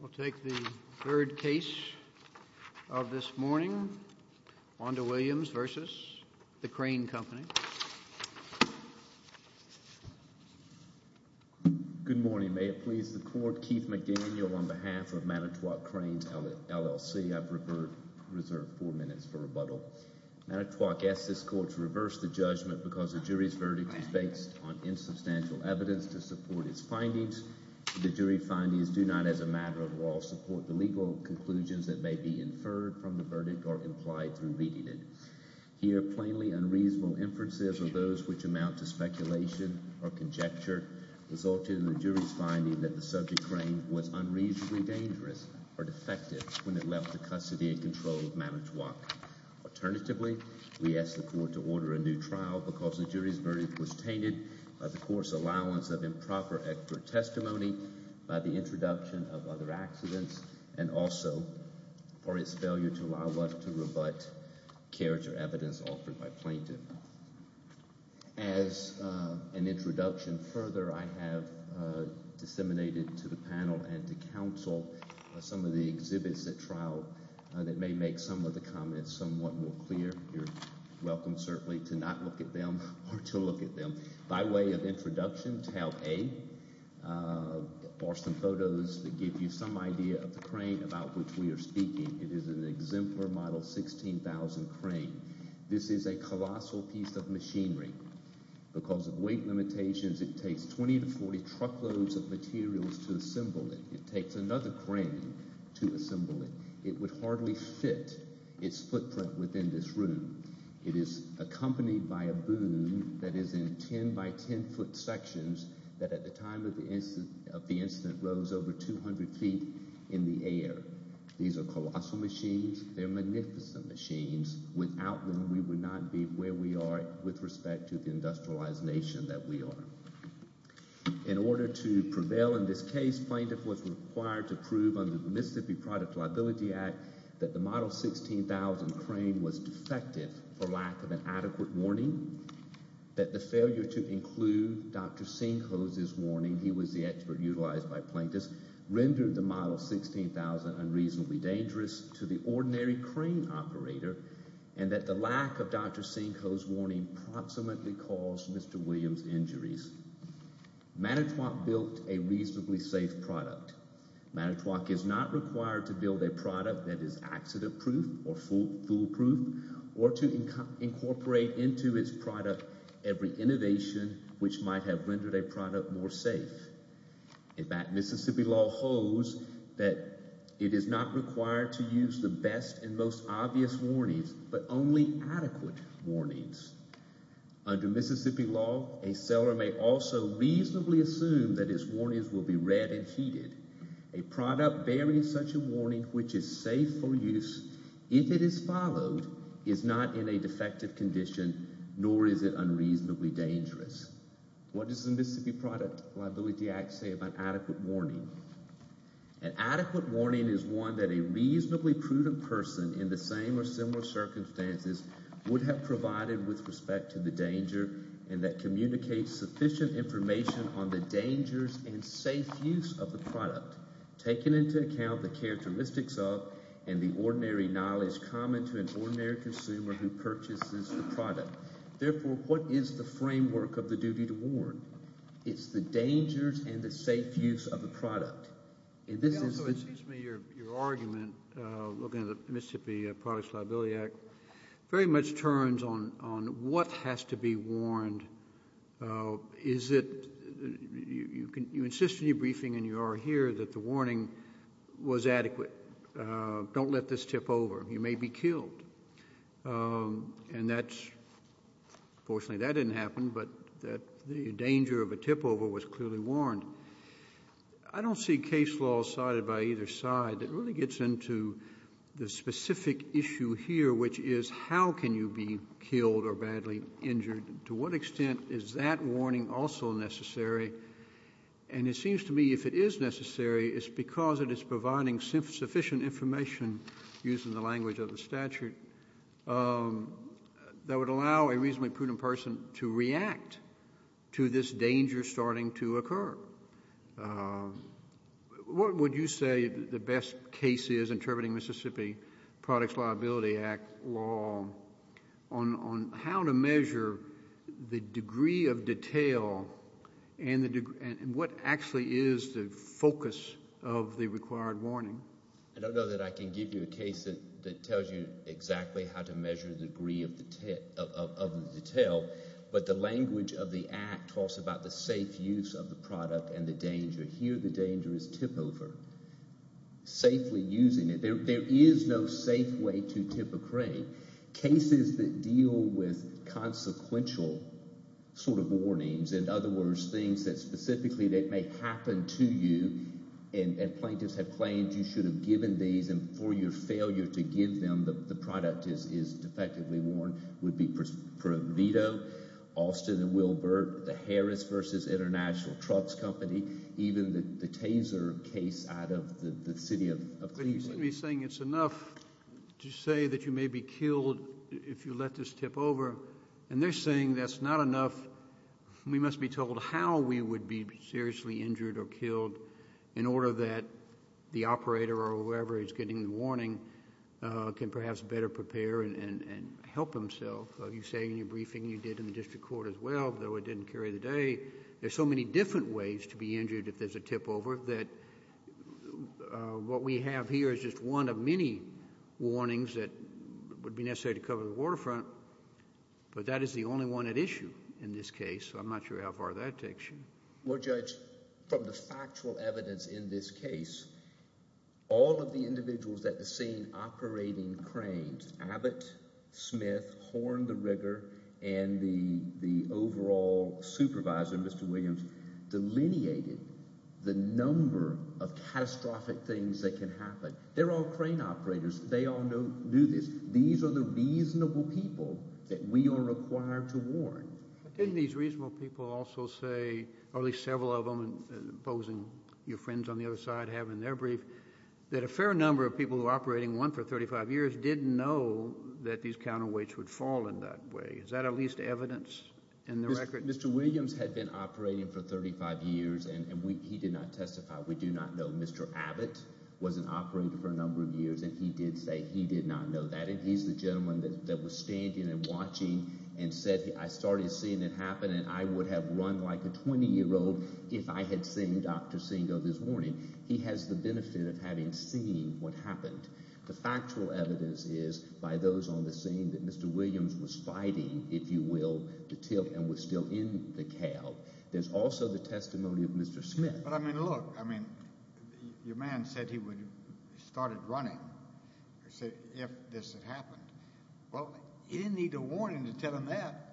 We'll take the third case of this morning, Wanda Williams v. The Crane Company. Good morning. May it please the Court, Keith McDaniel on behalf of Manitowoc Cranes, LLC. I've reserved four minutes for rebuttal. Manitowoc asks this Court to reverse the judgment because the jury's verdict is based on insubstantial evidence to support its findings. The jury findings do not, as a matter of law, support the legal conclusions that may be inferred from the verdict or implied through reading it. Here, plainly unreasonable inferences of those which amount to speculation or conjecture resulted in the jury's finding that the subject crane was unreasonably dangerous or defective when it left the custody in control of Manitowoc. Alternatively, we ask the Court to order a new trial because the jury's verdict was tainted by the Court's allowance of improper expert testimony, by the introduction of other accidents, and also for its failure to allow us to rebut character evidence offered by plaintiff. As an introduction, further, I have disseminated to the panel and to counsel some of the exhibits at trial that may make some of the comments somewhat more clear. You're welcome, certainly, to not look at them or to look at them. By way of introduction, Tale A are some photos that give you some idea of the crane about which we are speaking. It is an exemplar model 16,000 crane. This is a colossal piece of machinery. Because of weight limitations, it takes 20 to 40 truckloads of materials to assemble it. It takes another crane to assemble it. It would hardly fit its footprint within this room. It is accompanied by a boom that is in 10-by-10-foot sections that at the time of the incident rose over 200 feet in the air. These are colossal machines. They're magnificent machines. Without them, we would not be where we are with respect to the industrialized nation that we are. In order to prevail in this case, plaintiff was required to prove under the Mississippi Product Liability Act that the model 16,000 crane was defective for lack of an adequate warning, that the failure to include Dr. Sinkho's warning, he was the expert utilized by plaintiffs, rendered the model 16,000 unreasonably dangerous to the ordinary crane operator, and that the lack of Dr. Sinkho's warning approximately caused Mr. Williams injuries. Manitowoc built a reasonably safe product. Manitowoc is not required to build a product that is accident-proof or foolproof or to incorporate into its product every innovation which might have rendered a product more safe. In fact, Mississippi law holds that it is not required to use the best and most obvious warnings but only adequate warnings. Under Mississippi law, a seller may also reasonably assume that his warnings will be read and heeded. A product bearing such a warning which is safe for use, if it is followed, is not in a defective condition, nor is it unreasonably dangerous. What does the Mississippi Product Liability Act say about adequate warning? An adequate warning is one that a reasonably prudent person in the same or similar circumstances would have provided with respect to the danger and that communicates sufficient information on the dangers and safe use of the product, taking into account the characteristics of and the ordinary knowledge common to an ordinary consumer who purchases the product. Therefore, what is the framework of the duty to warn? It's the dangers and the safe use of the product. It seems to me your argument, looking at the Mississippi Product Liability Act, very much turns on what has to be warned. You insist in your briefing, and you are here, that the warning was adequate. Don't let this tip over. You may be killed. Fortunately, that didn't happen, but the danger of a tip over was clearly warned. I don't see case law sided by either side. It really gets into the specific issue here, which is how can you be killed or badly injured? To what extent is that warning also necessary? It seems to me if it is necessary, it's because it is providing sufficient information, using the language of the statute, that would allow a reasonably prudent person to react to this danger starting to occur. What would you say the best case is interpreting Mississippi Products Liability Act law on how to measure the degree of detail and what actually is the focus of the required warning? I don't know that I can give you a case that tells you exactly how to measure the degree of the detail, but the language of the Act talks about the safe use of the product and the danger. Here the danger is tip over, safely using it. There is no safe way to tip a crane. Cases that deal with consequential sort of warnings, in other words, things that specifically that may happen to you, and plaintiffs have claimed you should have given these and for your failure to give them, and the product is defectively worn, would be for a veto. Austin and Wilbert, the Harris v. International Trucks Company, even the Taser case out of the city of Cleveland. Are you saying it's enough to say that you may be killed if you let this tip over? And they're saying that's not enough. We must be told how we would be seriously injured or killed in order that the operator or whoever is getting the warning can perhaps better prepare and help himself. You say in your briefing you did in the district court as well, though it didn't carry the day. There's so many different ways to be injured if there's a tip over that what we have here is just one of many warnings that would be necessary to cover the waterfront, but that is the only one at issue in this case. I'm not sure how far that takes you. Well, Judge, from the factual evidence in this case, all of the individuals at the scene operating cranes, Abbott, Smith, Horn, the rigger, and the overall supervisor, Mr. Williams, delineated the number of catastrophic things that can happen. They're all crane operators. They all knew this. Didn't these reasonable people also say, or at least several of them, imposing your friends on the other side have in their brief, that a fair number of people who were operating one for 35 years didn't know that these counterweights would fall in that way? Is that at least evidence in the record? Mr. Williams had been operating for 35 years, and he did not testify. We do not know. Mr. Abbott wasn't operating for a number of years, and he did say he did not know that. He's the gentleman that was standing and watching and said, I started seeing it happen, and I would have run like a 20-year-old if I had seen Dr. Singo this morning. He has the benefit of having seen what happened. The factual evidence is by those on the scene that Mr. Williams was fighting, if you will, and was still in the calve. There's also the testimony of Mr. Smith. But, I mean, look, I mean, your man said he would have started running if this had happened. Well, he didn't need a warning to tell him that.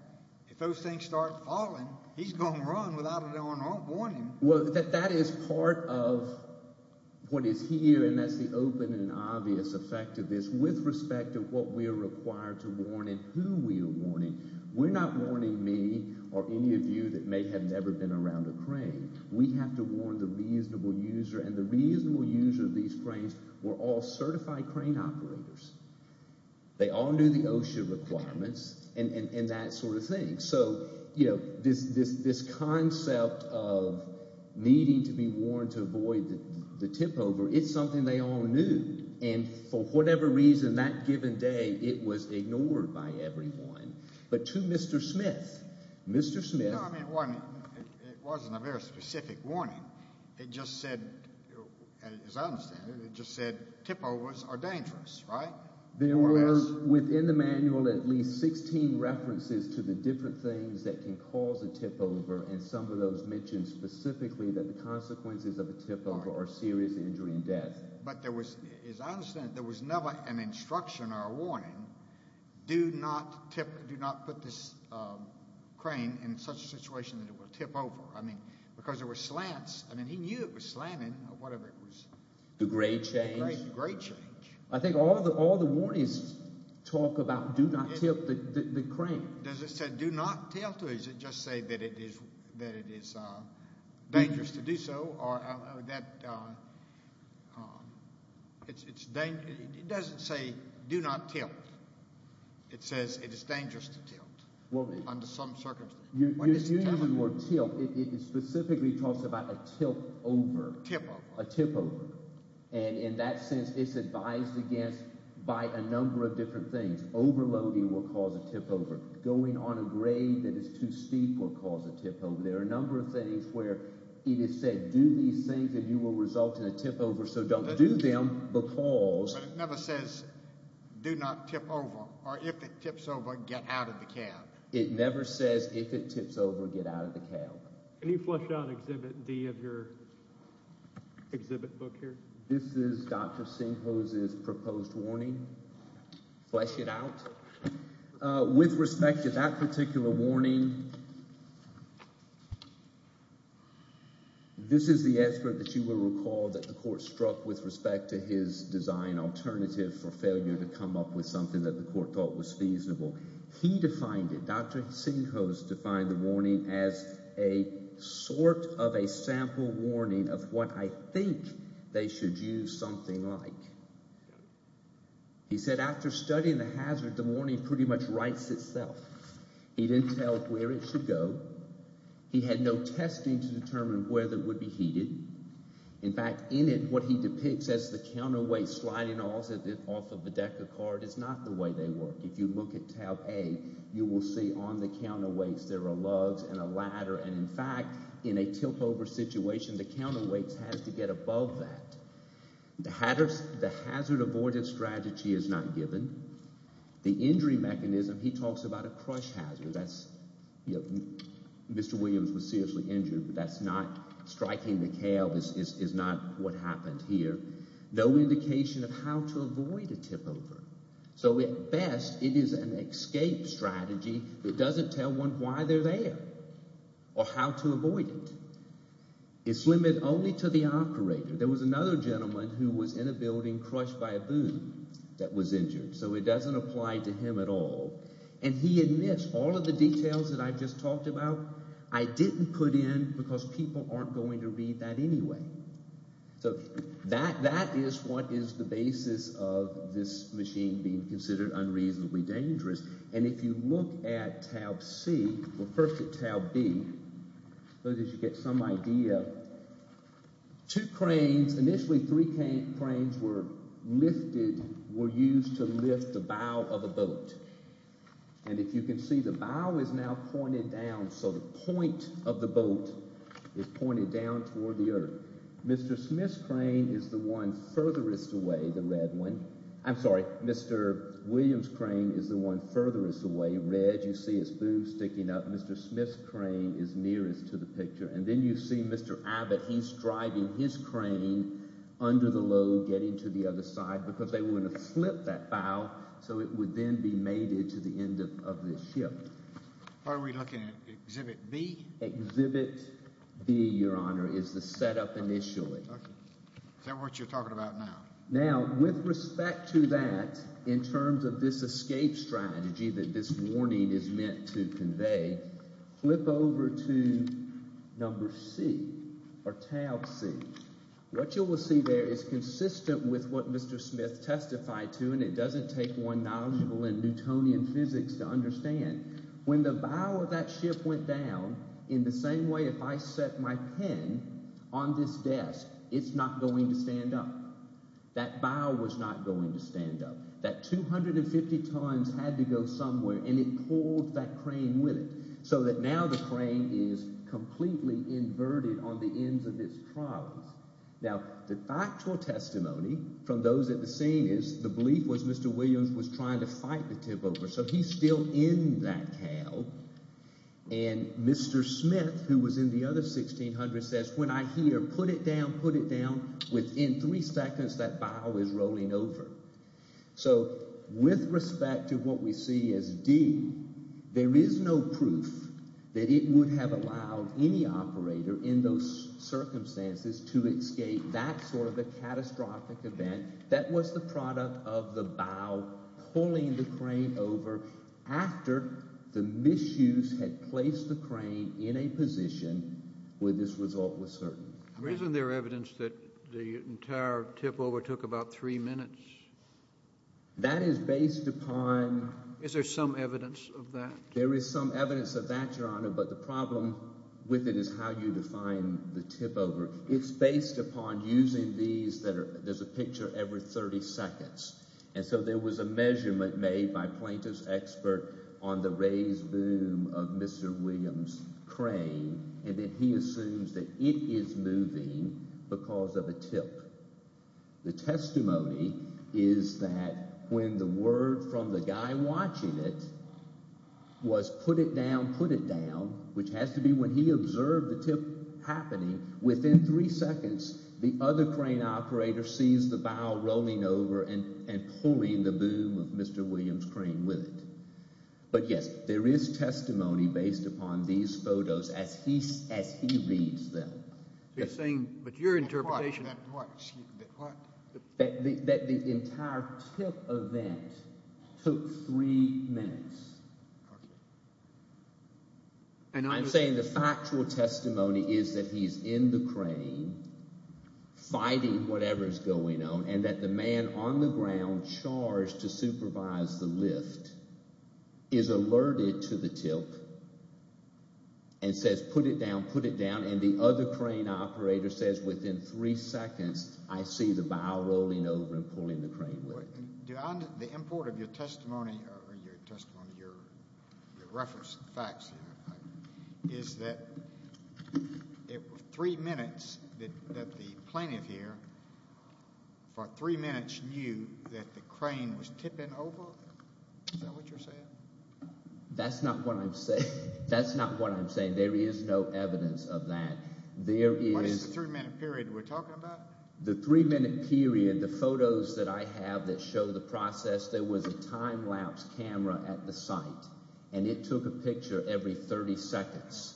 If those things start falling, he's going to run without a warning. Well, that is part of what is here, and that's the open and obvious effect of this with respect to what we are required to warn and who we are warning. We're not warning me or any of you that may have never been around a crane. We have to warn the reasonable user, and the reasonable user of these cranes were all certified crane operators. They all knew the OSHA requirements and that sort of thing. So, you know, this concept of needing to be warned to avoid the tipover, it's something they all knew. And for whatever reason, that given day, it was ignored by everyone. But to Mr. Smith, Mr. Smith— No, I mean, it wasn't a very specific warning. It just said, as I understand it, it just said tipovers are dangerous, right? There were within the manual at least 16 references to the different things that can cause a tipover, and some of those mentioned specifically that the consequences of a tipover are serious injury and death. But there was, as I understand it, there was never an instruction or a warning, do not tip—do not put this crane in such a situation that it will tip over. I mean, because there were slants. I mean, he knew it was slanting or whatever it was. The grade change. The grade change. I think all the warnings talk about do not tip the crane. Does it say do not tilt, or does it just say that it is dangerous to do so? It doesn't say do not tilt. It says it is dangerous to tilt under some circumstances. You have the word tilt. It specifically talks about a tilt over. A tipover. A tipover. And in that sense, it's advised against by a number of different things. Overloading will cause a tipover. Going on a grade that is too steep will cause a tipover. There are a number of things where it is said do these things and you will result in a tipover, so don't do them because— But it never says do not tip over, or if it tips over, get out of the cab. It never says if it tips over, get out of the cab. Can you flesh out Exhibit D of your exhibit book here? This is Dr. Sinkhose's proposed warning. Flesh it out. With respect to that particular warning, this is the expert that you will recall that the court struck with respect to his design alternative for failure to come up with something that the court thought was feasible. He defined it. Dr. Sinkhose defined the warning as a sort of a sample warning of what I think they should use something like. He said after studying the hazard, the warning pretty much writes itself. He didn't tell where it should go. He had no testing to determine where it would be heated. In fact, in it, what he depicts as the counterweight sliding off of the deck of cards is not the way they work. If you look at tab A, you will see on the counterweights there are lugs and a ladder, and in fact, in a tipover situation, the counterweight has to get above that. The hazard avoidance strategy is not given. The injury mechanism, he talks about a crush hazard. That's Mr. Williams was seriously injured, but that's not striking the calve is not what happened here. No indication of how to avoid a tipover. So at best, it is an escape strategy that doesn't tell one why they're there or how to avoid it. It's limited only to the operator. There was another gentleman who was in a building crushed by a boom that was injured, so it doesn't apply to him at all. And he admits all of the details that I've just talked about I didn't put in because people aren't going to read that anyway. So that is what is the basis of this machine being considered unreasonably dangerous. And if you look at tab C, well first at tab B, so that you get some idea. Two cranes, initially three cranes were lifted, were used to lift the bow of a boat. And if you can see, the bow is now pointed down, so the point of the boat is pointed down toward the earth. Mr. Smith's crane is the one furthest away, the red one. I'm sorry, Mr. Williams' crane is the one furthest away. Red, you see his boob sticking up. Mr. Smith's crane is nearest to the picture. And then you see Mr. Abbott, he's driving his crane under the load getting to the other side because they were going to flip that bow, so it would then be mated to the end of this ship. Are we looking at exhibit B? Exhibit B, Your Honor, is the setup initially. Is that what you're talking about now? Now, with respect to that, in terms of this escape strategy that this warning is meant to convey, flip over to number C, or tab C. What you will see there is consistent with what Mr. Smith testified to, and it doesn't take one knowledgeable in Newtonian physics to understand. When the bow of that ship went down, in the same way if I set my pen on this desk, it's not going to stand up. That bow was not going to stand up. That 250 tons had to go somewhere, and it pulled that crane with it so that now the crane is completely inverted on the ends of its trolleys. Now, the actual testimony from those at the scene is the belief was Mr. Williams was trying to fight the tip over, so he's still in that cow. And Mr. Smith, who was in the other 1600, says, when I hear put it down, put it down, within three seconds that bow is rolling over. So with respect to what we see as D, there is no proof that it would have allowed any operator in those circumstances to escape that sort of a catastrophic event. That was the product of the bow pulling the crane over after the misuse had placed the crane in a position where this result was certain. Isn't there evidence that the entire tip over took about three minutes? That is based upon… Is there some evidence of that? There is some evidence of that, Your Honor, but the problem with it is how you define the tip over. It's based upon using these that are – there's a picture every 30 seconds. And so there was a measurement made by plaintiff's expert on the raised boom of Mr. Williams' crane, and then he assumes that it is moving because of a tip. The testimony is that when the word from the guy watching it was put it down, put it down, which has to be when he observed the tip happening, within three seconds the other crane operator sees the bow rolling over and pulling the boom of Mr. Williams' crane with it. But, yes, there is testimony based upon these photos as he reads them. But your interpretation… That the entire tip event took three minutes. I'm saying the factual testimony is that he's in the crane fighting whatever is going on and that the man on the ground charged to supervise the lift is alerted to the tip and says put it down, put it down, and the other crane operator says within three seconds I see the bow rolling over and pulling the crane with it. The import of your testimony or your reference facts is that three minutes that the plaintiff here for three minutes knew that the crane was tipping over? Is that what you're saying? That's not what I'm saying. That's not what I'm saying. There is no evidence of that. What is the three-minute period we're talking about? The three-minute period, the photos that I have that show the process, there was a time-lapse camera at the site, and it took a picture every 30 seconds.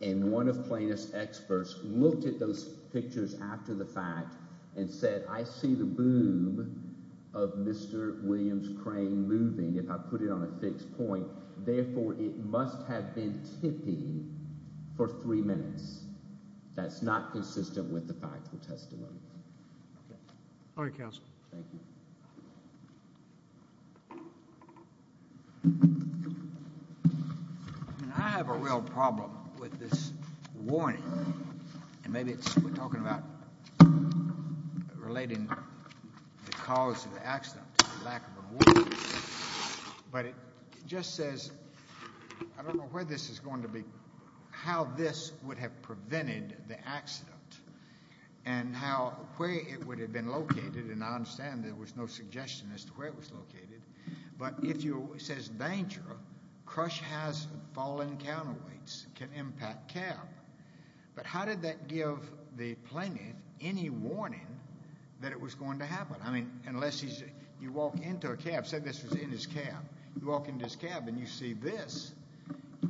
And one of plaintiff's experts looked at those pictures after the fact and said I see the boom of Mr. Williams' crane moving if I put it on a fixed point. Therefore, it must have been tipping for three minutes. That's not consistent with the factual testimony. All right, counsel. Thank you. I have a real problem with this warning, and maybe we're talking about relating the cause of the accident to the lack of a warning. But it just says, I don't know where this is going to be, how this would have prevented the accident and where it would have been located. And I understand there was no suggestion as to where it was located. But if it says danger, crush hazard, fallen counterweights can impact cab. But how did that give the plaintiff any warning that it was going to happen? I mean, unless you walk into a cab, say this was in his cab, you walk into his cab and you see this,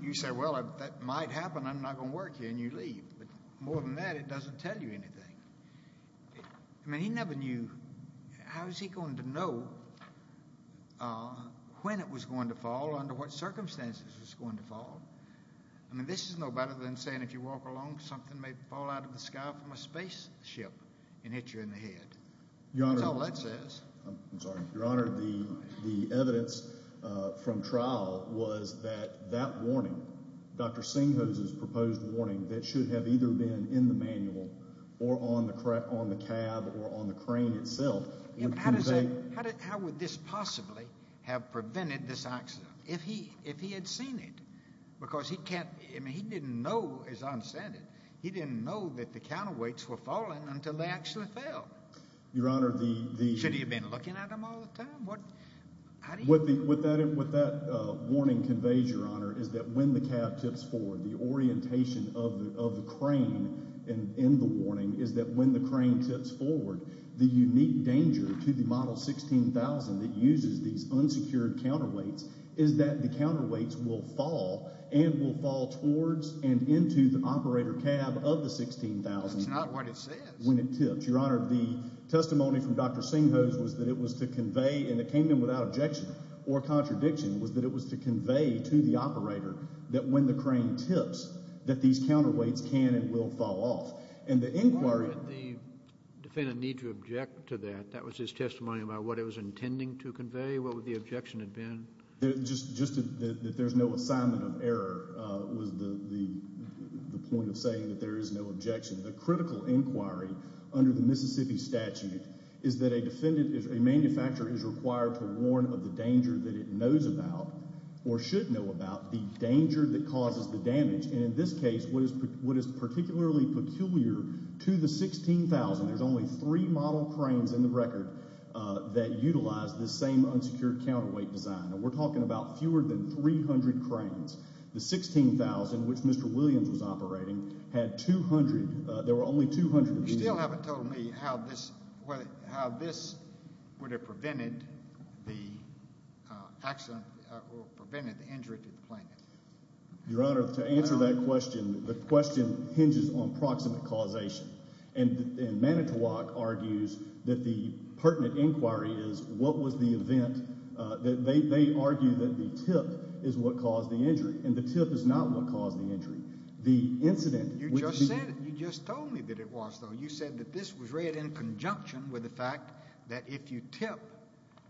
you say, well, that might happen. I'm not going to work here. And you leave. But more than that, it doesn't tell you anything. I mean, he never knew. How was he going to know when it was going to fall, under what circumstances it was going to fall? I mean, this is no better than saying if you walk along, something may fall out of the sky from a spaceship and hit you in the head. That's all that says. I'm sorry. Your Honor, the evidence from trial was that that warning, Dr. Singhose's proposed warning, that should have either been in the manual or on the cab or on the crane itself. How would this possibly have prevented this accident if he had seen it? Because he didn't know, as I understand it, he didn't know that the counterweights were falling until they actually fell. Your Honor, the— Should he have been looking at them all the time? What that warning conveys, Your Honor, is that when the cab tips forward, the orientation of the crane in the warning is that when the crane tips forward, the unique danger to the Model 16,000 that uses these unsecured counterweights is that the counterweights will fall and will fall towards and into the operator cab of the 16,000— That's not what it says. —when it tips. Your Honor, the testimony from Dr. Singhose was that it was to convey, and it came in without objection or contradiction, was that it was to convey to the operator that when the crane tips, that these counterweights can and will fall off. And the inquiry— Why would the defendant need to object to that? That was his testimony about what it was intending to convey? What would the objection have been? Just that there's no assignment of error was the point of saying that there is no objection. The critical inquiry under the Mississippi statute is that a defendant, a manufacturer, is required to warn of the danger that it knows about or should know about, the danger that causes the damage. And in this case, what is particularly peculiar to the 16,000— There's only three model cranes in the record that utilize this same unsecured counterweight design, and we're talking about fewer than 300 cranes. The 16,000, which Mr. Williams was operating, had 200. There were only 200 of these. You still haven't told me how this would have prevented the accident or prevented the injury to the plane. Your Honor, to answer that question, the question hinges on proximate causation. And Manitowoc argues that the pertinent inquiry is what was the event— they argue that the tip is what caused the injury, and the tip is not what caused the injury. The incident— You just said it. You just told me that it was, though. You said that this was read in conjunction with the fact that if you tip,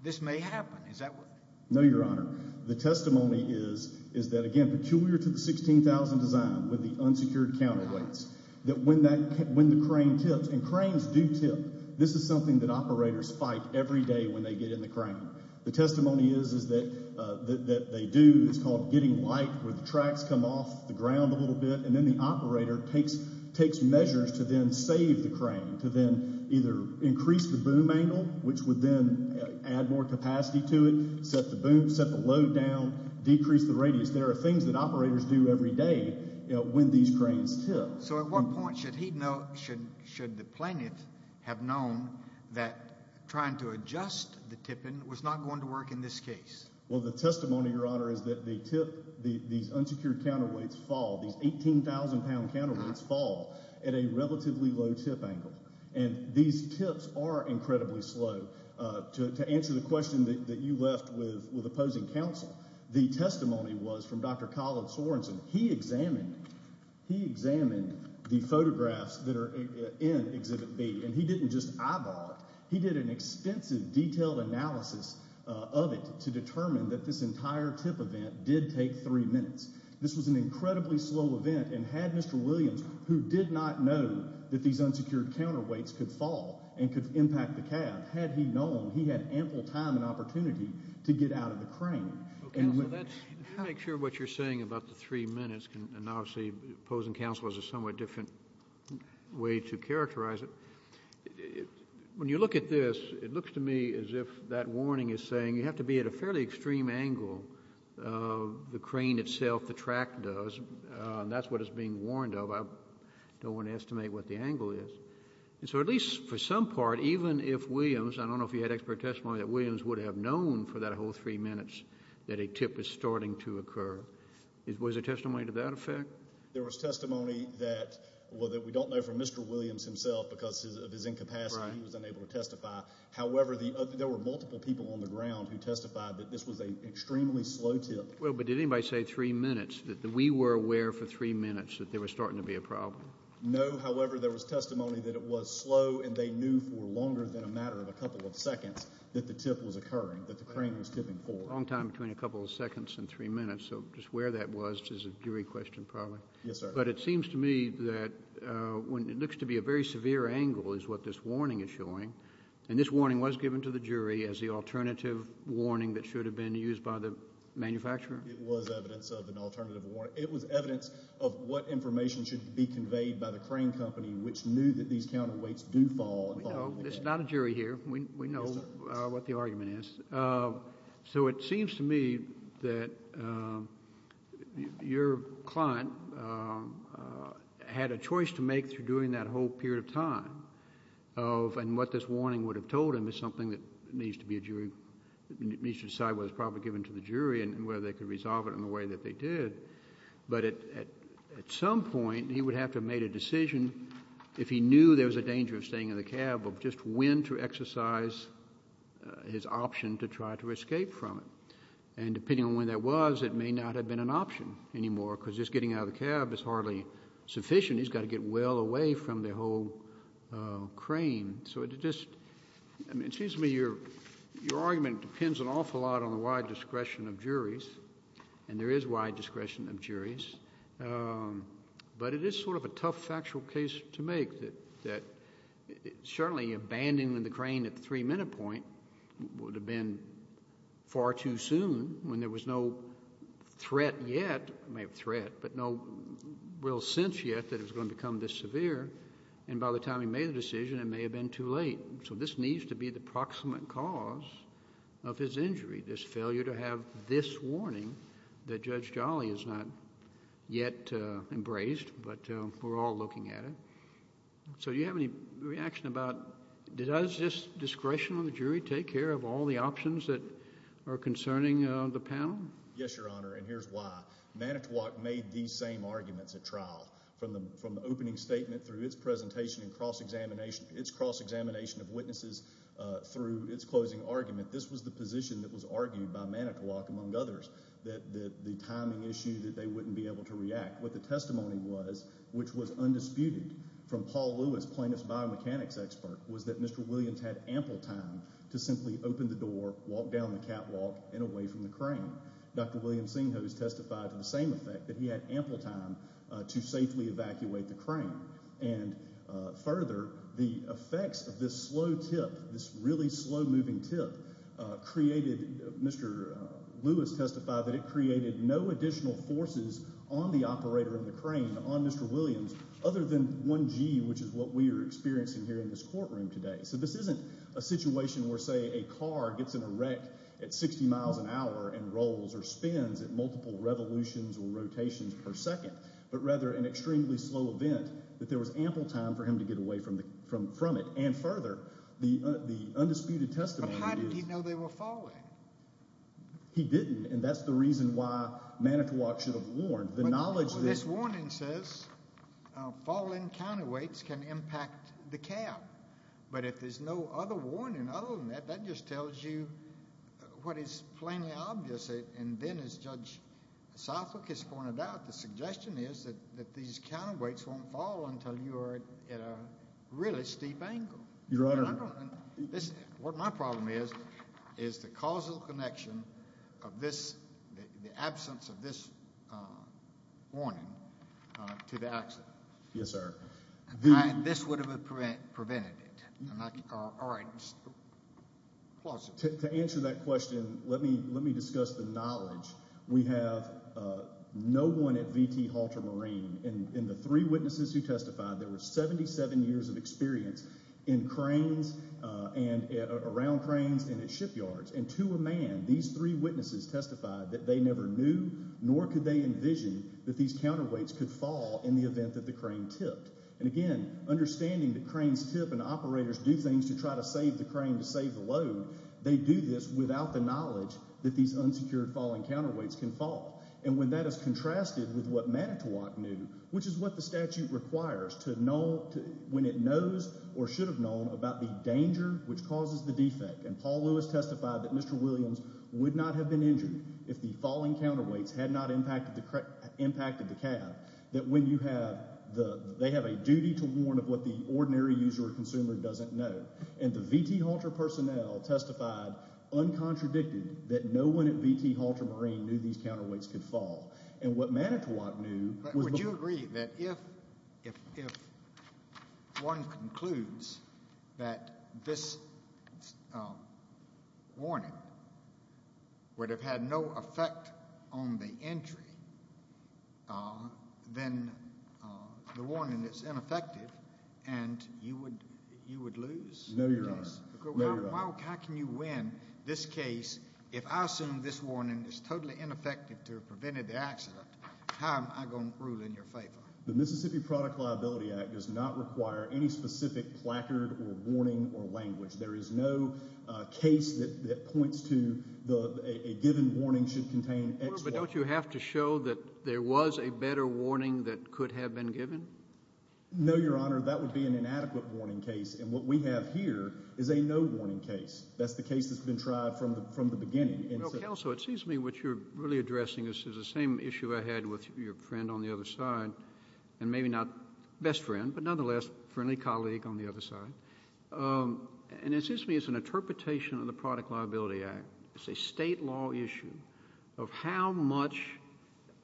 this may happen. Is that what— No, Your Honor. The testimony is that, again, peculiar to the 16,000 design with the unsecured counterweights, that when the crane tips—and cranes do tip. This is something that operators fight every day when they get in the crane. The testimony is that they do. It's called getting light where the tracks come off the ground a little bit, and then the operator takes measures to then save the crane, to then either increase the boom angle, which would then add more capacity to it, set the boom, set the load down, decrease the radius. There are things that operators do every day when these cranes tip. So at what point should the plaintiff have known that trying to adjust the tipping was not going to work in this case? Well, the testimony, Your Honor, is that the tip—these unsecured counterweights fall, these 18,000-pound counterweights fall at a relatively low tip angle, and these tips are incredibly slow. To answer the question that you left with opposing counsel, the testimony was from Dr. Colin Sorensen. He examined the photographs that are in Exhibit B, and he didn't just eyeball it. He did an extensive, detailed analysis of it to determine that this entire tip event did take three minutes. This was an incredibly slow event, and had Mr. Williams, who did not know that these unsecured counterweights could fall and could impact the cab, had he known, he had ample time and opportunity to get out of the crane. Let me make sure what you're saying about the three minutes, and obviously opposing counsel is a somewhat different way to characterize it. When you look at this, it looks to me as if that warning is saying you have to be at a fairly extreme angle. The crane itself, the track does, and that's what it's being warned of. I don't want to estimate what the angle is. So at least for some part, even if Williams, I don't know if you had expert testimony, that Williams would have known for that whole three minutes that a tip was starting to occur. Was there testimony to that effect? There was testimony that we don't know from Mr. Williams himself because of his incapacity. He was unable to testify. However, there were multiple people on the ground who testified that this was an extremely slow tip. Well, but did anybody say three minutes, that we were aware for three minutes that there was starting to be a problem? No. However, there was testimony that it was slow, and they knew for longer than a matter of a couple of seconds that the tip was occurring, that the crane was tipping forward. A long time between a couple of seconds and three minutes, so just where that was is a jury question probably. Yes, sir. But it seems to me that when it looks to be a very severe angle is what this warning is showing, and this warning was given to the jury as the alternative warning that should have been used by the manufacturer. It was evidence of an alternative warning. It should be conveyed by the crane company, which knew that these counterweights do fall. It's not a jury here. We know what the argument is. So it seems to me that your client had a choice to make through doing that whole period of time, and what this warning would have told him is something that needs to be a jury, needs to decide what was probably given to the jury and whether they could resolve it in the way that they did. But at some point, he would have to have made a decision if he knew there was a danger of staying in the cab of just when to exercise his option to try to escape from it. And depending on when that was, it may not have been an option anymore because just getting out of the cab is hardly sufficient. He's got to get well away from the whole crane. So it just seems to me your argument depends an awful lot on the wide discretion of juries, and there is wide discretion of juries. But it is sort of a tough factual case to make that certainly abandoning the crane at the three-minute point would have been far too soon when there was no threat yet, maybe threat, but no real sense yet that it was going to become this severe. And by the time he made the decision, it may have been too late. So this needs to be the proximate cause of his injury, this failure to have this warning that Judge Jolly has not yet embraced, but we're all looking at it. So do you have any reaction about does this discretion of the jury take care of all the options that are concerning the panel? Yes, Your Honor, and here's why. Manitowoc made these same arguments at trial. From the opening statement through its presentation and cross-examination of witnesses through its closing argument, this was the position that was argued by Manitowoc, among others, that the timing issue that they wouldn't be able to react. What the testimony was, which was undisputed from Paul Lewis, plaintiff's biomechanics expert, was that Mr. Williams had ample time to simply open the door, walk down the catwalk, and away from the crane. Dr. William Senghose testified to the same effect, that he had ample time to safely evacuate the crane. And further, the effects of this slow tip, this really slow-moving tip, created— Mr. Lewis testified that it created no additional forces on the operator of the crane, on Mr. Williams, other than 1G, which is what we are experiencing here in this courtroom today. So this isn't a situation where, say, a car gets in a wreck at 60 miles an hour and rolls or spins at multiple revolutions or rotations per second, but rather an extremely slow event that there was ample time for him to get away from it. And further, the undisputed testimony is— But how did he know they were falling? He didn't, and that's the reason why Manitowoc should have warned. The knowledge that— If there's no other warning other than that, that just tells you what is plainly obvious. And then, as Judge Southwick has pointed out, the suggestion is that these counterweights won't fall until you are at a really steep angle. Your Honor— What my problem is, is the causal connection of this—the absence of this warning to the accident. Yes, sir. This would have prevented it. All right. To answer that question, let me discuss the knowledge. We have no one at V.T. Halter Marine. And the three witnesses who testified, there were 77 years of experience in cranes and around cranes and at shipyards. And to a man, these three witnesses testified that they never knew nor could they envision that these counterweights could fall in the event that the crane tipped. And again, understanding that cranes tip and operators do things to try to save the crane to save the load, they do this without the knowledge that these unsecured falling counterweights can fall. And when that is contrasted with what Manitowoc knew, which is what the statute requires to know when it knows or should have known about the danger which causes the defect. And Paul Lewis testified that Mr. Williams would not have been injured if the falling counterweights had not impacted the cab. That when you have—they have a duty to warn of what the ordinary user or consumer doesn't know. And the V.T. Halter personnel testified uncontradicted that no one at V.T. Halter Marine knew these counterweights could fall. And what Manitowoc knew was— Would you agree that if one concludes that this warning would have had no effect on the entry, then the warning is ineffective and you would lose? No, Your Honor. No, Your Honor. Manitowoc, how can you win this case if I assume this warning is totally ineffective to have prevented the accident? How am I going to rule in your favor? The Mississippi Product Liability Act does not require any specific placard or warning or language. There is no case that points to a given warning should contain X or Y. But don't you have to show that there was a better warning that could have been given? No, Your Honor. That would be an inadequate warning case. And what we have here is a no warning case. That's the case that's been tried from the beginning. Counsel, it seems to me what you're really addressing is the same issue I had with your friend on the other side, and maybe not best friend, but nonetheless friendly colleague on the other side. And it seems to me it's an interpretation of the Product Liability Act. It's a state law issue of how much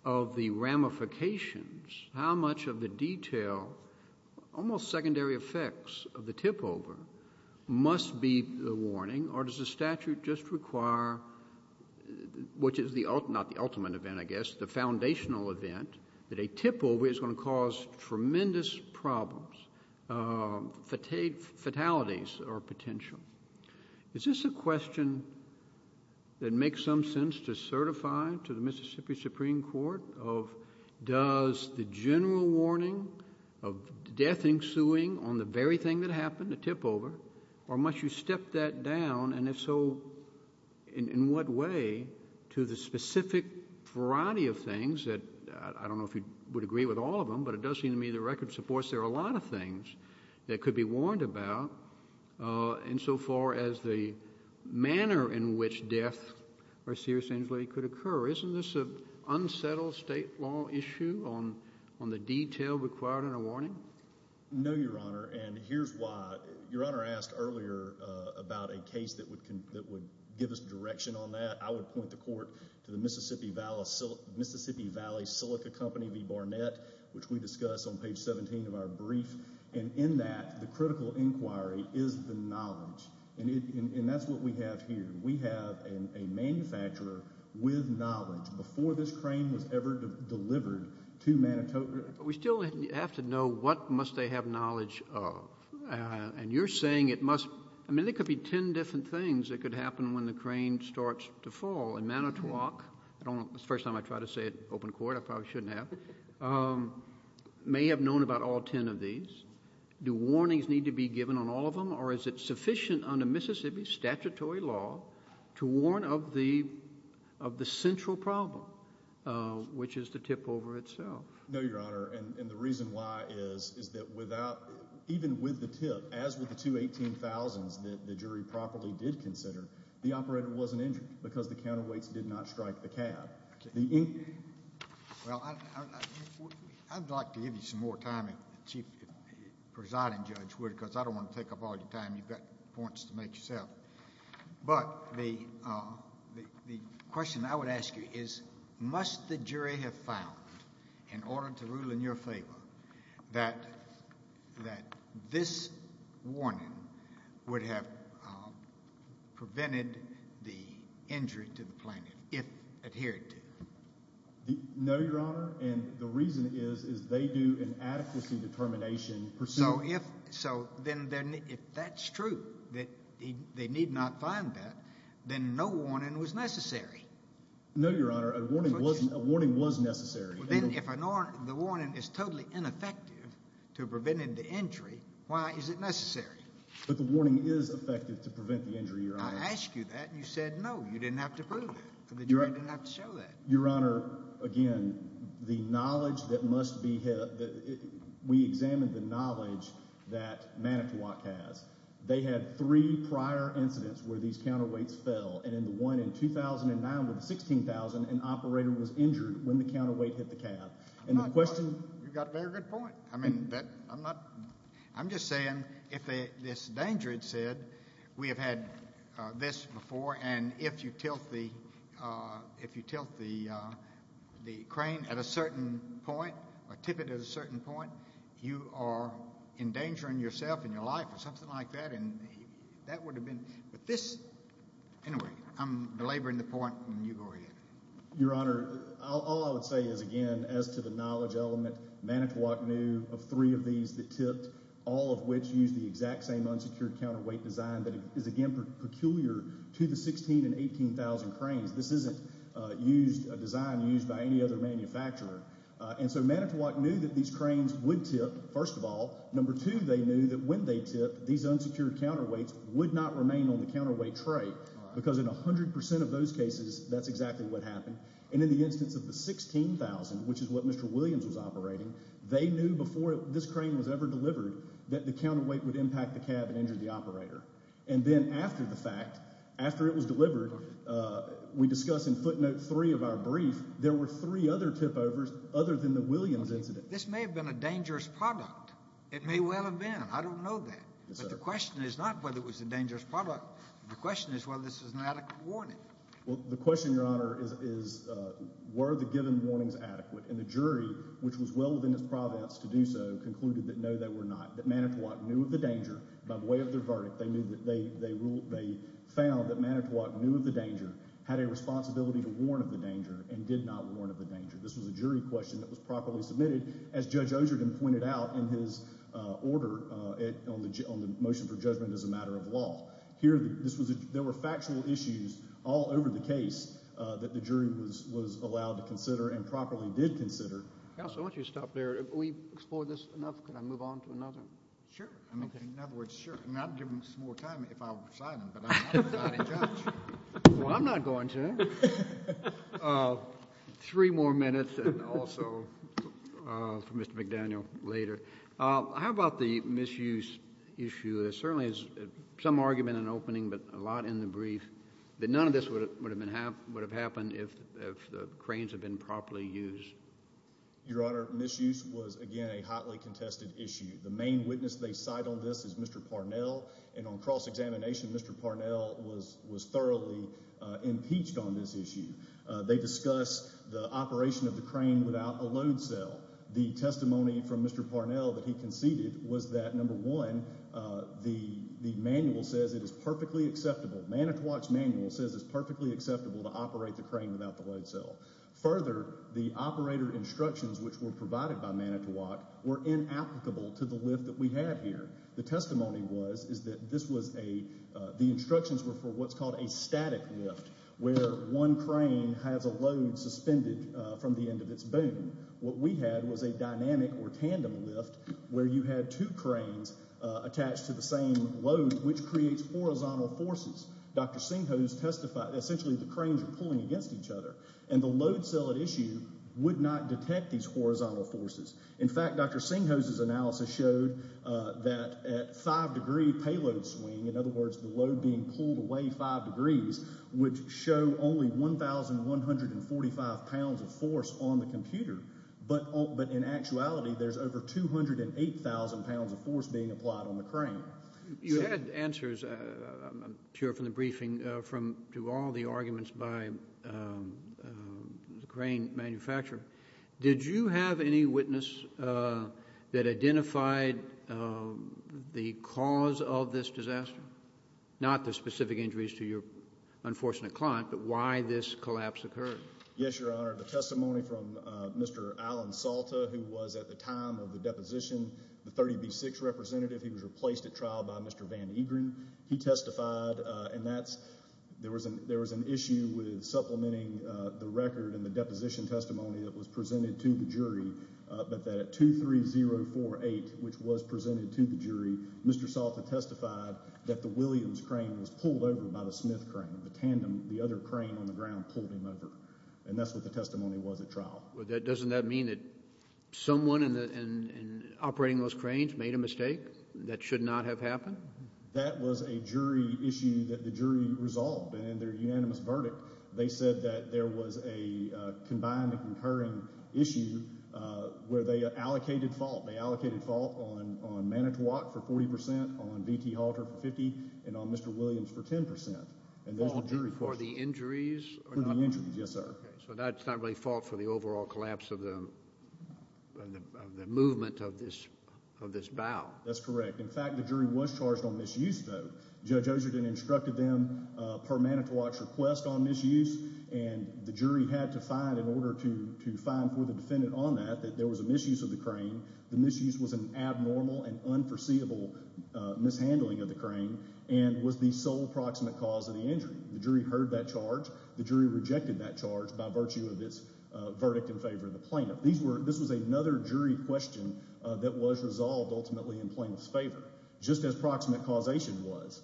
of the ramifications, how much of the detail, almost secondary effects of the tipover must be the warning, or does the statute just require, which is not the ultimate event, I guess, the foundational event, that a tipover is going to cause tremendous problems, fatalities or potential. Is this a question that makes some sense to certify to the Mississippi Supreme Court of does the general warning of death ensuing on the very thing that happened, the tipover, or must you step that down, and if so, in what way, to the specific variety of things that, I don't know if you would agree with all of them, but it does seem to me the record supports there are a lot of things that could be warned about insofar as the manner in which death or serious injury could occur. Isn't this an unsettled state law issue on the detail required in a warning? No, Your Honor, and here's why. Your Honor asked earlier about a case that would give us direction on that. I would point the court to the Mississippi Valley Silica Company v. Barnett, which we discuss on page 17 of our brief, and in that the critical inquiry is the knowledge, and that's what we have here. We have a manufacturer with knowledge before this crane was ever delivered to Manitoba. We still have to know what must they have knowledge of, and you're saying it must, I mean there could be ten different things that could happen when the crane starts to fall. And Manitowoc, first time I try to say it open court, I probably shouldn't have, may have known about all ten of these. Do warnings need to be given on all of them, or is it sufficient under Mississippi statutory law to warn of the central problem, which is the tip over itself? No, Your Honor, and the reason why is that even with the tip, as with the two 18,000s that the jury properly did consider, the operator wasn't injured because the counterweights did not strike the cab. Well, I'd like to give you some more time if the presiding judge would, because I don't want to take up all your time. You've got points to make yourself. But the question I would ask you is must the jury have found, in order to rule in your favor, that this warning would have prevented the injury to the planet if adhered to? No, Your Honor, and the reason is they do an adequacy determination. So if that's true, that they need not find that, then no warning was necessary. No, Your Honor, a warning was necessary. Then if the warning is totally ineffective to preventing the injury, why is it necessary? But the warning is effective to prevent the injury, Your Honor. I asked you that, and you said no. You didn't have to prove it. The jury didn't have to show that. Your Honor, again, the knowledge that must be—we examined the knowledge that Manitowoc has. They had three prior incidents where these counterweights fell, and in the one in 2009 with the 16,000, an operator was injured when the counterweight hit the cab. And the question— You've got a very good point. I mean, I'm not—I'm just saying if this danger had said we have had this before, and if you tilt the crane at a certain point or tip it at a certain point, you are endangering yourself and your life or something like that, and that would have been— Anyway, I'm belaboring the point, and you go ahead. Your Honor, all I would say is, again, as to the knowledge element, Manitowoc knew of three of these that tipped, all of which used the exact same unsecured counterweight design that is, again, peculiar to the 16,000 and 18,000 cranes. This isn't a design used by any other manufacturer. And so Manitowoc knew that these cranes would tip, first of all. Number two, they knew that when they tipped, these unsecured counterweights would not remain on the counterweight tray because in 100 percent of those cases, that's exactly what happened. And in the instance of the 16,000, which is what Mr. Williams was operating, they knew before this crane was ever delivered that the counterweight would impact the cab and injure the operator. And then after the fact, after it was delivered, we discuss in footnote three of our brief, there were three other tip-overs other than the Williams incident. This may have been a dangerous product. It may well have been. I don't know that. But the question is not whether it was a dangerous product. The question is whether this was an adequate warning. Well, the question, Your Honor, is were the given warnings adequate? And the jury, which was well within its province to do so, concluded that no, they were not, that Manitowoc knew of the danger. By way of their verdict, they found that Manitowoc knew of the danger, had a responsibility to warn of the danger, and did not warn of the danger. This was a jury question that was properly submitted, as Judge Osherden pointed out in his order on the motion for judgment as a matter of law. There were factual issues all over the case that the jury was allowed to consider and properly did consider. Counsel, I want you to stop there. We've explored this enough. Can I move on to another? Sure. In other words, sure. I'd give him some more time if I were beside him, but I'm not a judge. Well, I'm not going to. Three more minutes and also for Mr. McDaniel later. How about the misuse issue? There certainly is some argument in the opening but a lot in the brief that none of this would have happened if the cranes had been properly used. Your Honor, misuse was, again, a hotly contested issue. The main witness they cite on this is Mr. Parnell, and on cross-examination, Mr. Parnell was thoroughly impeached on this issue. They discuss the operation of the crane without a load cell. The testimony from Mr. Parnell that he conceded was that, number one, the manual says it is perfectly acceptable. Manitowoc's manual says it's perfectly acceptable to operate the crane without the load cell. Further, the operator instructions which were provided by Manitowoc were inapplicable to the lift that we had here. The testimony was that the instructions were for what's called a static lift where one crane has a load suspended from the end of its boom. What we had was a dynamic or tandem lift where you had two cranes attached to the same load, which creates horizontal forces. Dr. Singhose testified that essentially the cranes were pulling against each other, and the load cell at issue would not detect these horizontal forces. In fact, Dr. Singhose's analysis showed that at five-degree payload swing, in other words, the load being pulled away five degrees, would show only 1,145 pounds of force on the computer, but in actuality there's over 208,000 pounds of force being applied on the crane. You had answers, I'm sure, from the briefing to all the arguments by the crane manufacturer. Did you have any witness that identified the cause of this disaster? Not the specific injuries to your unfortunate client, but why this collapse occurred. Yes, Your Honor. The testimony from Mr. Alan Salta, who was at the time of the deposition the 30B6 representative. He was replaced at trial by Mr. Van Eegren. He testified, and there was an issue with supplementing the record and the deposition testimony that was presented to the jury, but that at 23048, which was presented to the jury, Mr. Salta testified that the Williams crane was pulled over by the Smith crane. The tandem, the other crane on the ground pulled him over, and that's what the testimony was at trial. Doesn't that mean that someone operating those cranes made a mistake that should not have happened? That was a jury issue that the jury resolved, and in their unanimous verdict, they said that there was a combined and concurring issue where they allocated fault. They allocated fault on Manitowoc for 40%, on VT Halter for 50%, and on Mr. Williams for 10%. Fault for the injuries? For the injuries, yes, sir. So that's not really fault for the overall collapse of the movement of this bow? That's correct. In fact, the jury was charged on misuse, though. Judge Ogerden instructed them per Manitowoc's request on misuse, and the jury had to find, in order to find for the defendant on that, that there was a misuse of the crane. The misuse was an abnormal and unforeseeable mishandling of the crane and was the sole proximate cause of the injury. The jury heard that charge. The jury rejected that charge by virtue of its verdict in favor of the plaintiff. This was another jury question that was resolved ultimately in plaintiff's favor. Just as proximate causation was,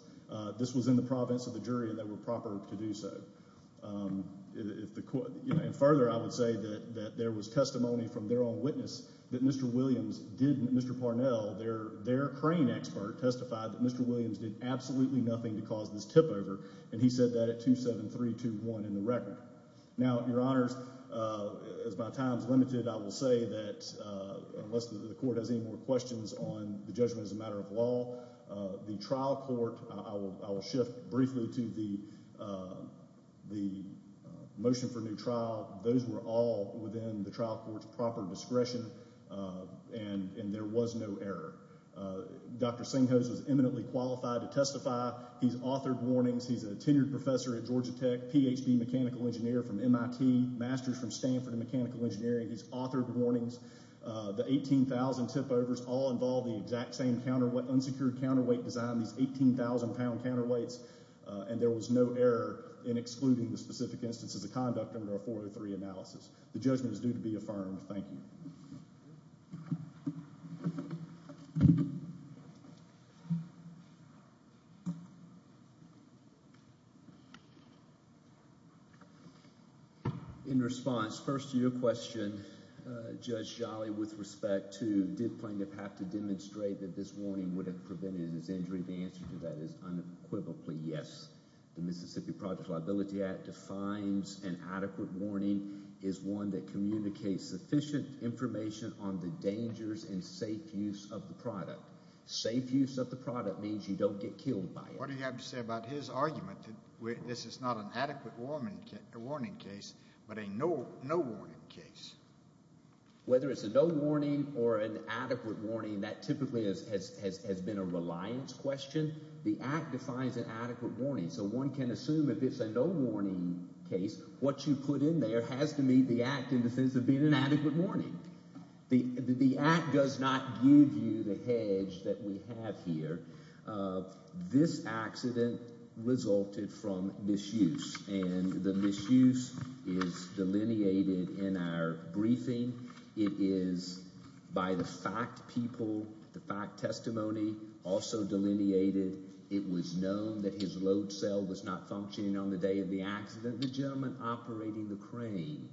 this was in the province of the jury, and they were proper to do so. And further, I would say that there was testimony from their own witness that Mr. Williams didn't, Mr. Parnell, their crane expert, testified that Mr. Williams did absolutely nothing to cause this tipover, and he said that at 2-7-3-2-1 in the record. Now, Your Honors, as my time is limited, I will say that unless the court has any more questions on the judgment as a matter of law, the trial court, I will shift briefly to the motion for new trial. Those were all within the trial court's proper discretion, and there was no error. Dr. Senghose was eminently qualified to testify. He's authored warnings. He's a tenured professor at Georgia Tech, Ph.D. mechanical engineer from MIT, masters from Stanford in mechanical engineering. He's authored warnings. The 18,000 tipovers all involve the exact same unsecured counterweight design, these 18,000-pound counterweights, and there was no error in excluding the specific instances of conduct under a 4-3-3 analysis. The judgment is due to be affirmed. Thank you. In response, first to your question, Judge Jolly, with respect to did plaintiff have to demonstrate that this warning would have prevented his injury, the answer to that is unequivocally yes. The Mississippi Project Liability Act defines an adequate warning as one that communicates sufficient information on the dangers and safe use of the product. Safe use of the product means you don't get killed by it. What do you have to say about his argument that this is not an adequate warning case but a no warning case? Whether it's a no warning or an adequate warning, that typically has been a reliance question. The Act defines an adequate warning, so one can assume if it's a no warning case, what you put in there has to meet the Act in defense of being an adequate warning. The Act does not give you the hedge that we have here. This accident resulted from misuse, and the misuse is delineated in our briefing. It is by the fact people, the fact testimony, also delineated. It was known that his load cell was not functioning on the day of the accident. The gentleman operating the crane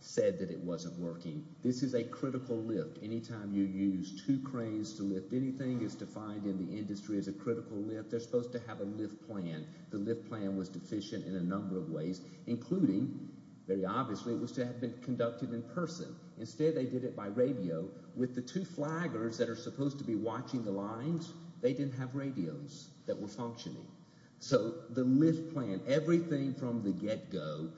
said that it wasn't working. This is a critical lift. Anytime you use two cranes to lift anything is defined in the industry as a critical lift. They're supposed to have a lift plan. The lift plan was deficient in a number of ways, including, very obviously, it was to have been conducted in person. Instead, they did it by radio. With the two flaggers that are supposed to be watching the lines, they didn't have radios that were functioning. So the lift plan, everything from the get-go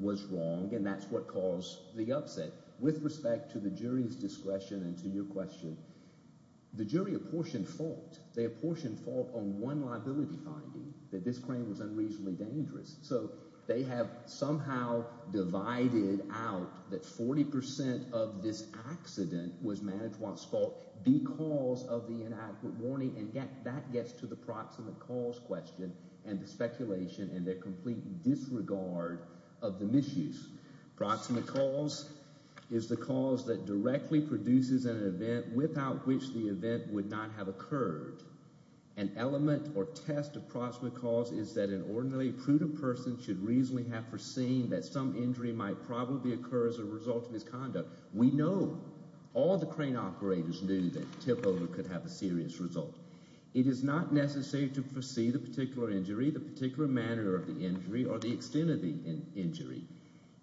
was wrong, and that's what caused the upset. With respect to the jury's discretion and to your question, the jury apportioned fault. They apportioned fault on one liability finding, that this crane was unreasonably dangerous. So they have somehow divided out that 40% of this accident was management's fault because of the inadequate warning, and that gets to the proximate cause question and the speculation and the complete disregard of the misuse. Proximate cause is the cause that directly produces an event without which the event would not have occurred. An element or test of proximate cause is that an ordinarily prudent person should reasonably have foreseen that some injury might probably occur as a result of his conduct. We know, all the crane operators knew that tip-over could have a serious result. It is not necessary to foresee the particular injury, the particular manner of the injury, or the extent of the injury.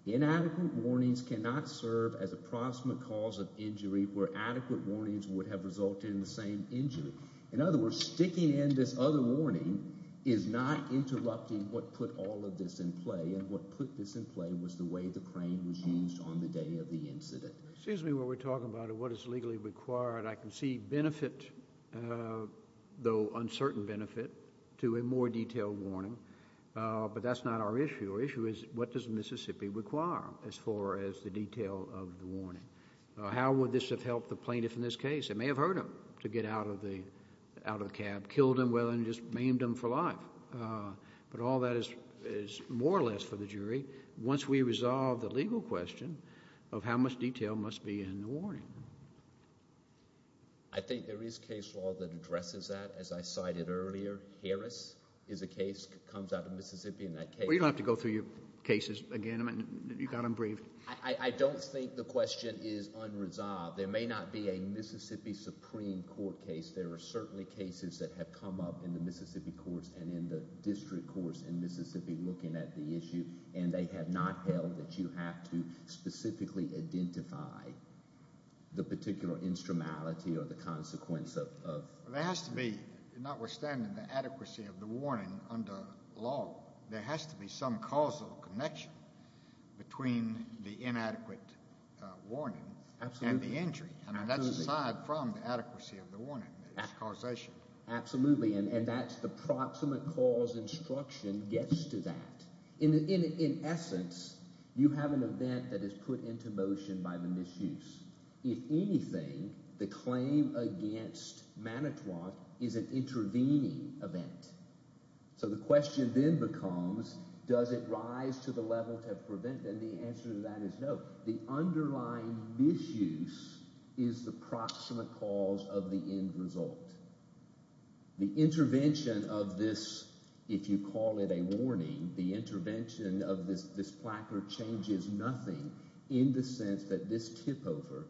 Inadequate warnings cannot serve as a proximate cause of injury where adequate warnings would have resulted in the same injury. In other words, sticking in this other warning is not interrupting what put all of this in play, and what put this in play was the way the crane was used on the day of the incident. Excuse me while we're talking about what is legally required. I can see benefit, though uncertain benefit, to a more detailed warning, but that's not our issue. Our issue is what does Mississippi require as far as the detail of the warning? How would this have helped the plaintiff in this case? They may have heard him to get out of the cab, killed him, well, and just maimed him for life, but all that is more or less for the jury once we resolve the legal question of how much detail must be in the warning. I think there is case law that addresses that. As I cited earlier, Harris is a case that comes out of Mississippi, and that case... Well, you don't have to go through your cases again. You've got them briefed. I don't think the question is unresolved. There may not be a Mississippi Supreme Court case. There are certainly cases that have come up in the Mississippi courts and in the district courts in Mississippi looking at the issue, and they have not held that you have to specifically identify the particular instrumentality or the consequence of... There has to be, notwithstanding the adequacy of the warning under law, there has to be some causal connection between the inadequate warning and the injury. That's aside from the adequacy of the warning, the causation. Absolutely, and that's the proximate cause instruction gets to that. In essence, you have an event that is put into motion by the misuse. If anything, the claim against Manitowoc is an intervening event. So the question then becomes, does it rise to the level of preventative? The answer to that is no. The underlying misuse is the proximate cause of the end result. The intervention of this, if you call it a warning, the intervention of this placard changes nothing in the sense that this tipover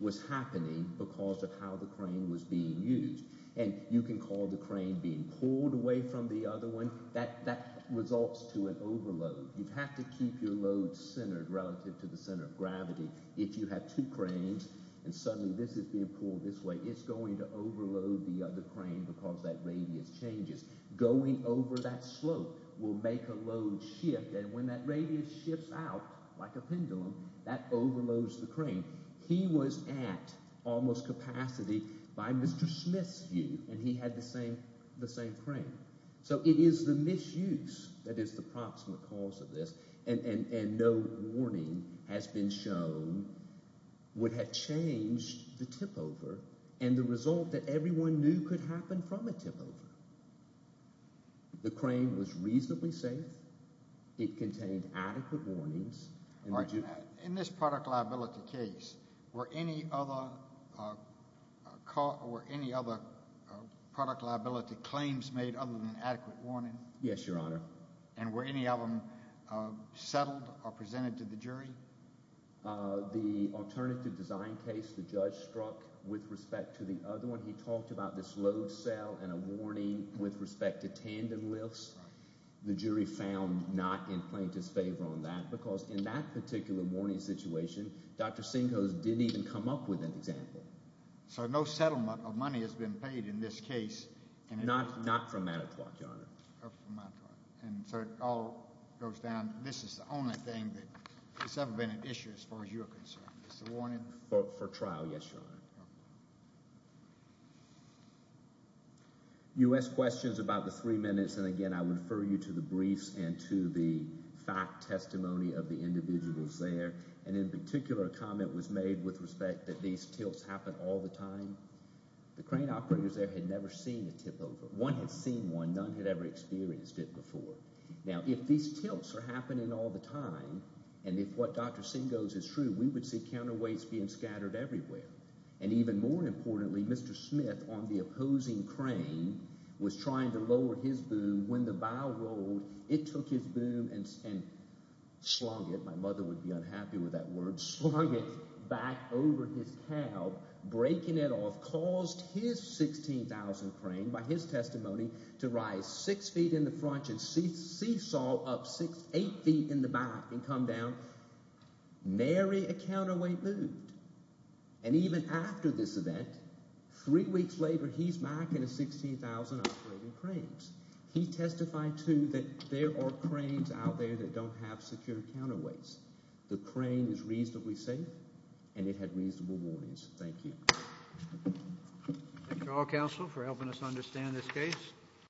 was happening because of how the claim was being used. And you can call the claim being pulled away from the other one. That results to an overload. You have to keep your load centered relative to the center of gravity. If you have two claims and suddenly this is being pulled this way, it's going to overload the other claim because that radius changes. Going over that slope will make a load shift, and when that radius shifts out like a pendulum, that overloads the claim. He was at almost capacity by Mr. Smith's view, and he had the same claim. So it is the misuse that is the proximate cause of this, and no warning has been shown would have changed the tipover and the result that everyone knew could happen from a tipover. The claim was reasonably safe. It contained adequate warnings. In this product liability case, were any other product liability claims made other than adequate warning? Yes, Your Honor. And were any of them settled or presented to the jury? The alternative design case the judge struck with respect to the other one, he talked about this load cell and a warning with respect to tandem lifts. The jury found not in plaintiff's favor on that because in that particular warning situation, Dr. Sinkos didn't even come up with an example. So no settlement of money has been paid in this case? Not from Matterport, Your Honor. Not from Matterport. And so it all goes down, this is the only thing that has ever been an issue as far as you're concerned. It's a warning? For trial, yes, Your Honor. You asked questions about the three minutes, and again, I would refer you to the briefs and to the fact testimony of the individuals there. And in particular, a comment was made with respect that these tilts happen all the time. The crane operators there had never seen a tipover. One had seen one. None had ever experienced it before. Now, if these tilts are happening all the time, and if what Dr. Sinkos is true, we would see counterweights being scattered everywhere. And even more importantly, Mr. Smith on the opposing crane was trying to lower his boom. When the bow rolled, it took his boom and slung it. My mother would be unhappy with that word. Slung it back over his cab, breaking it off, caused his 16,000 crane, by his testimony, to rise six feet in the front and seesaw up eight feet in the back and come down. Mary, a counterweight, moved. And even after this event, three weeks later, he's back in his 16,000 operating cranes. He testified, too, that there are cranes out there that don't have secure counterweights. The crane is reasonably safe, and it had reasonable warnings. Thank you. Thank you all, counsel, for helping us understand this case.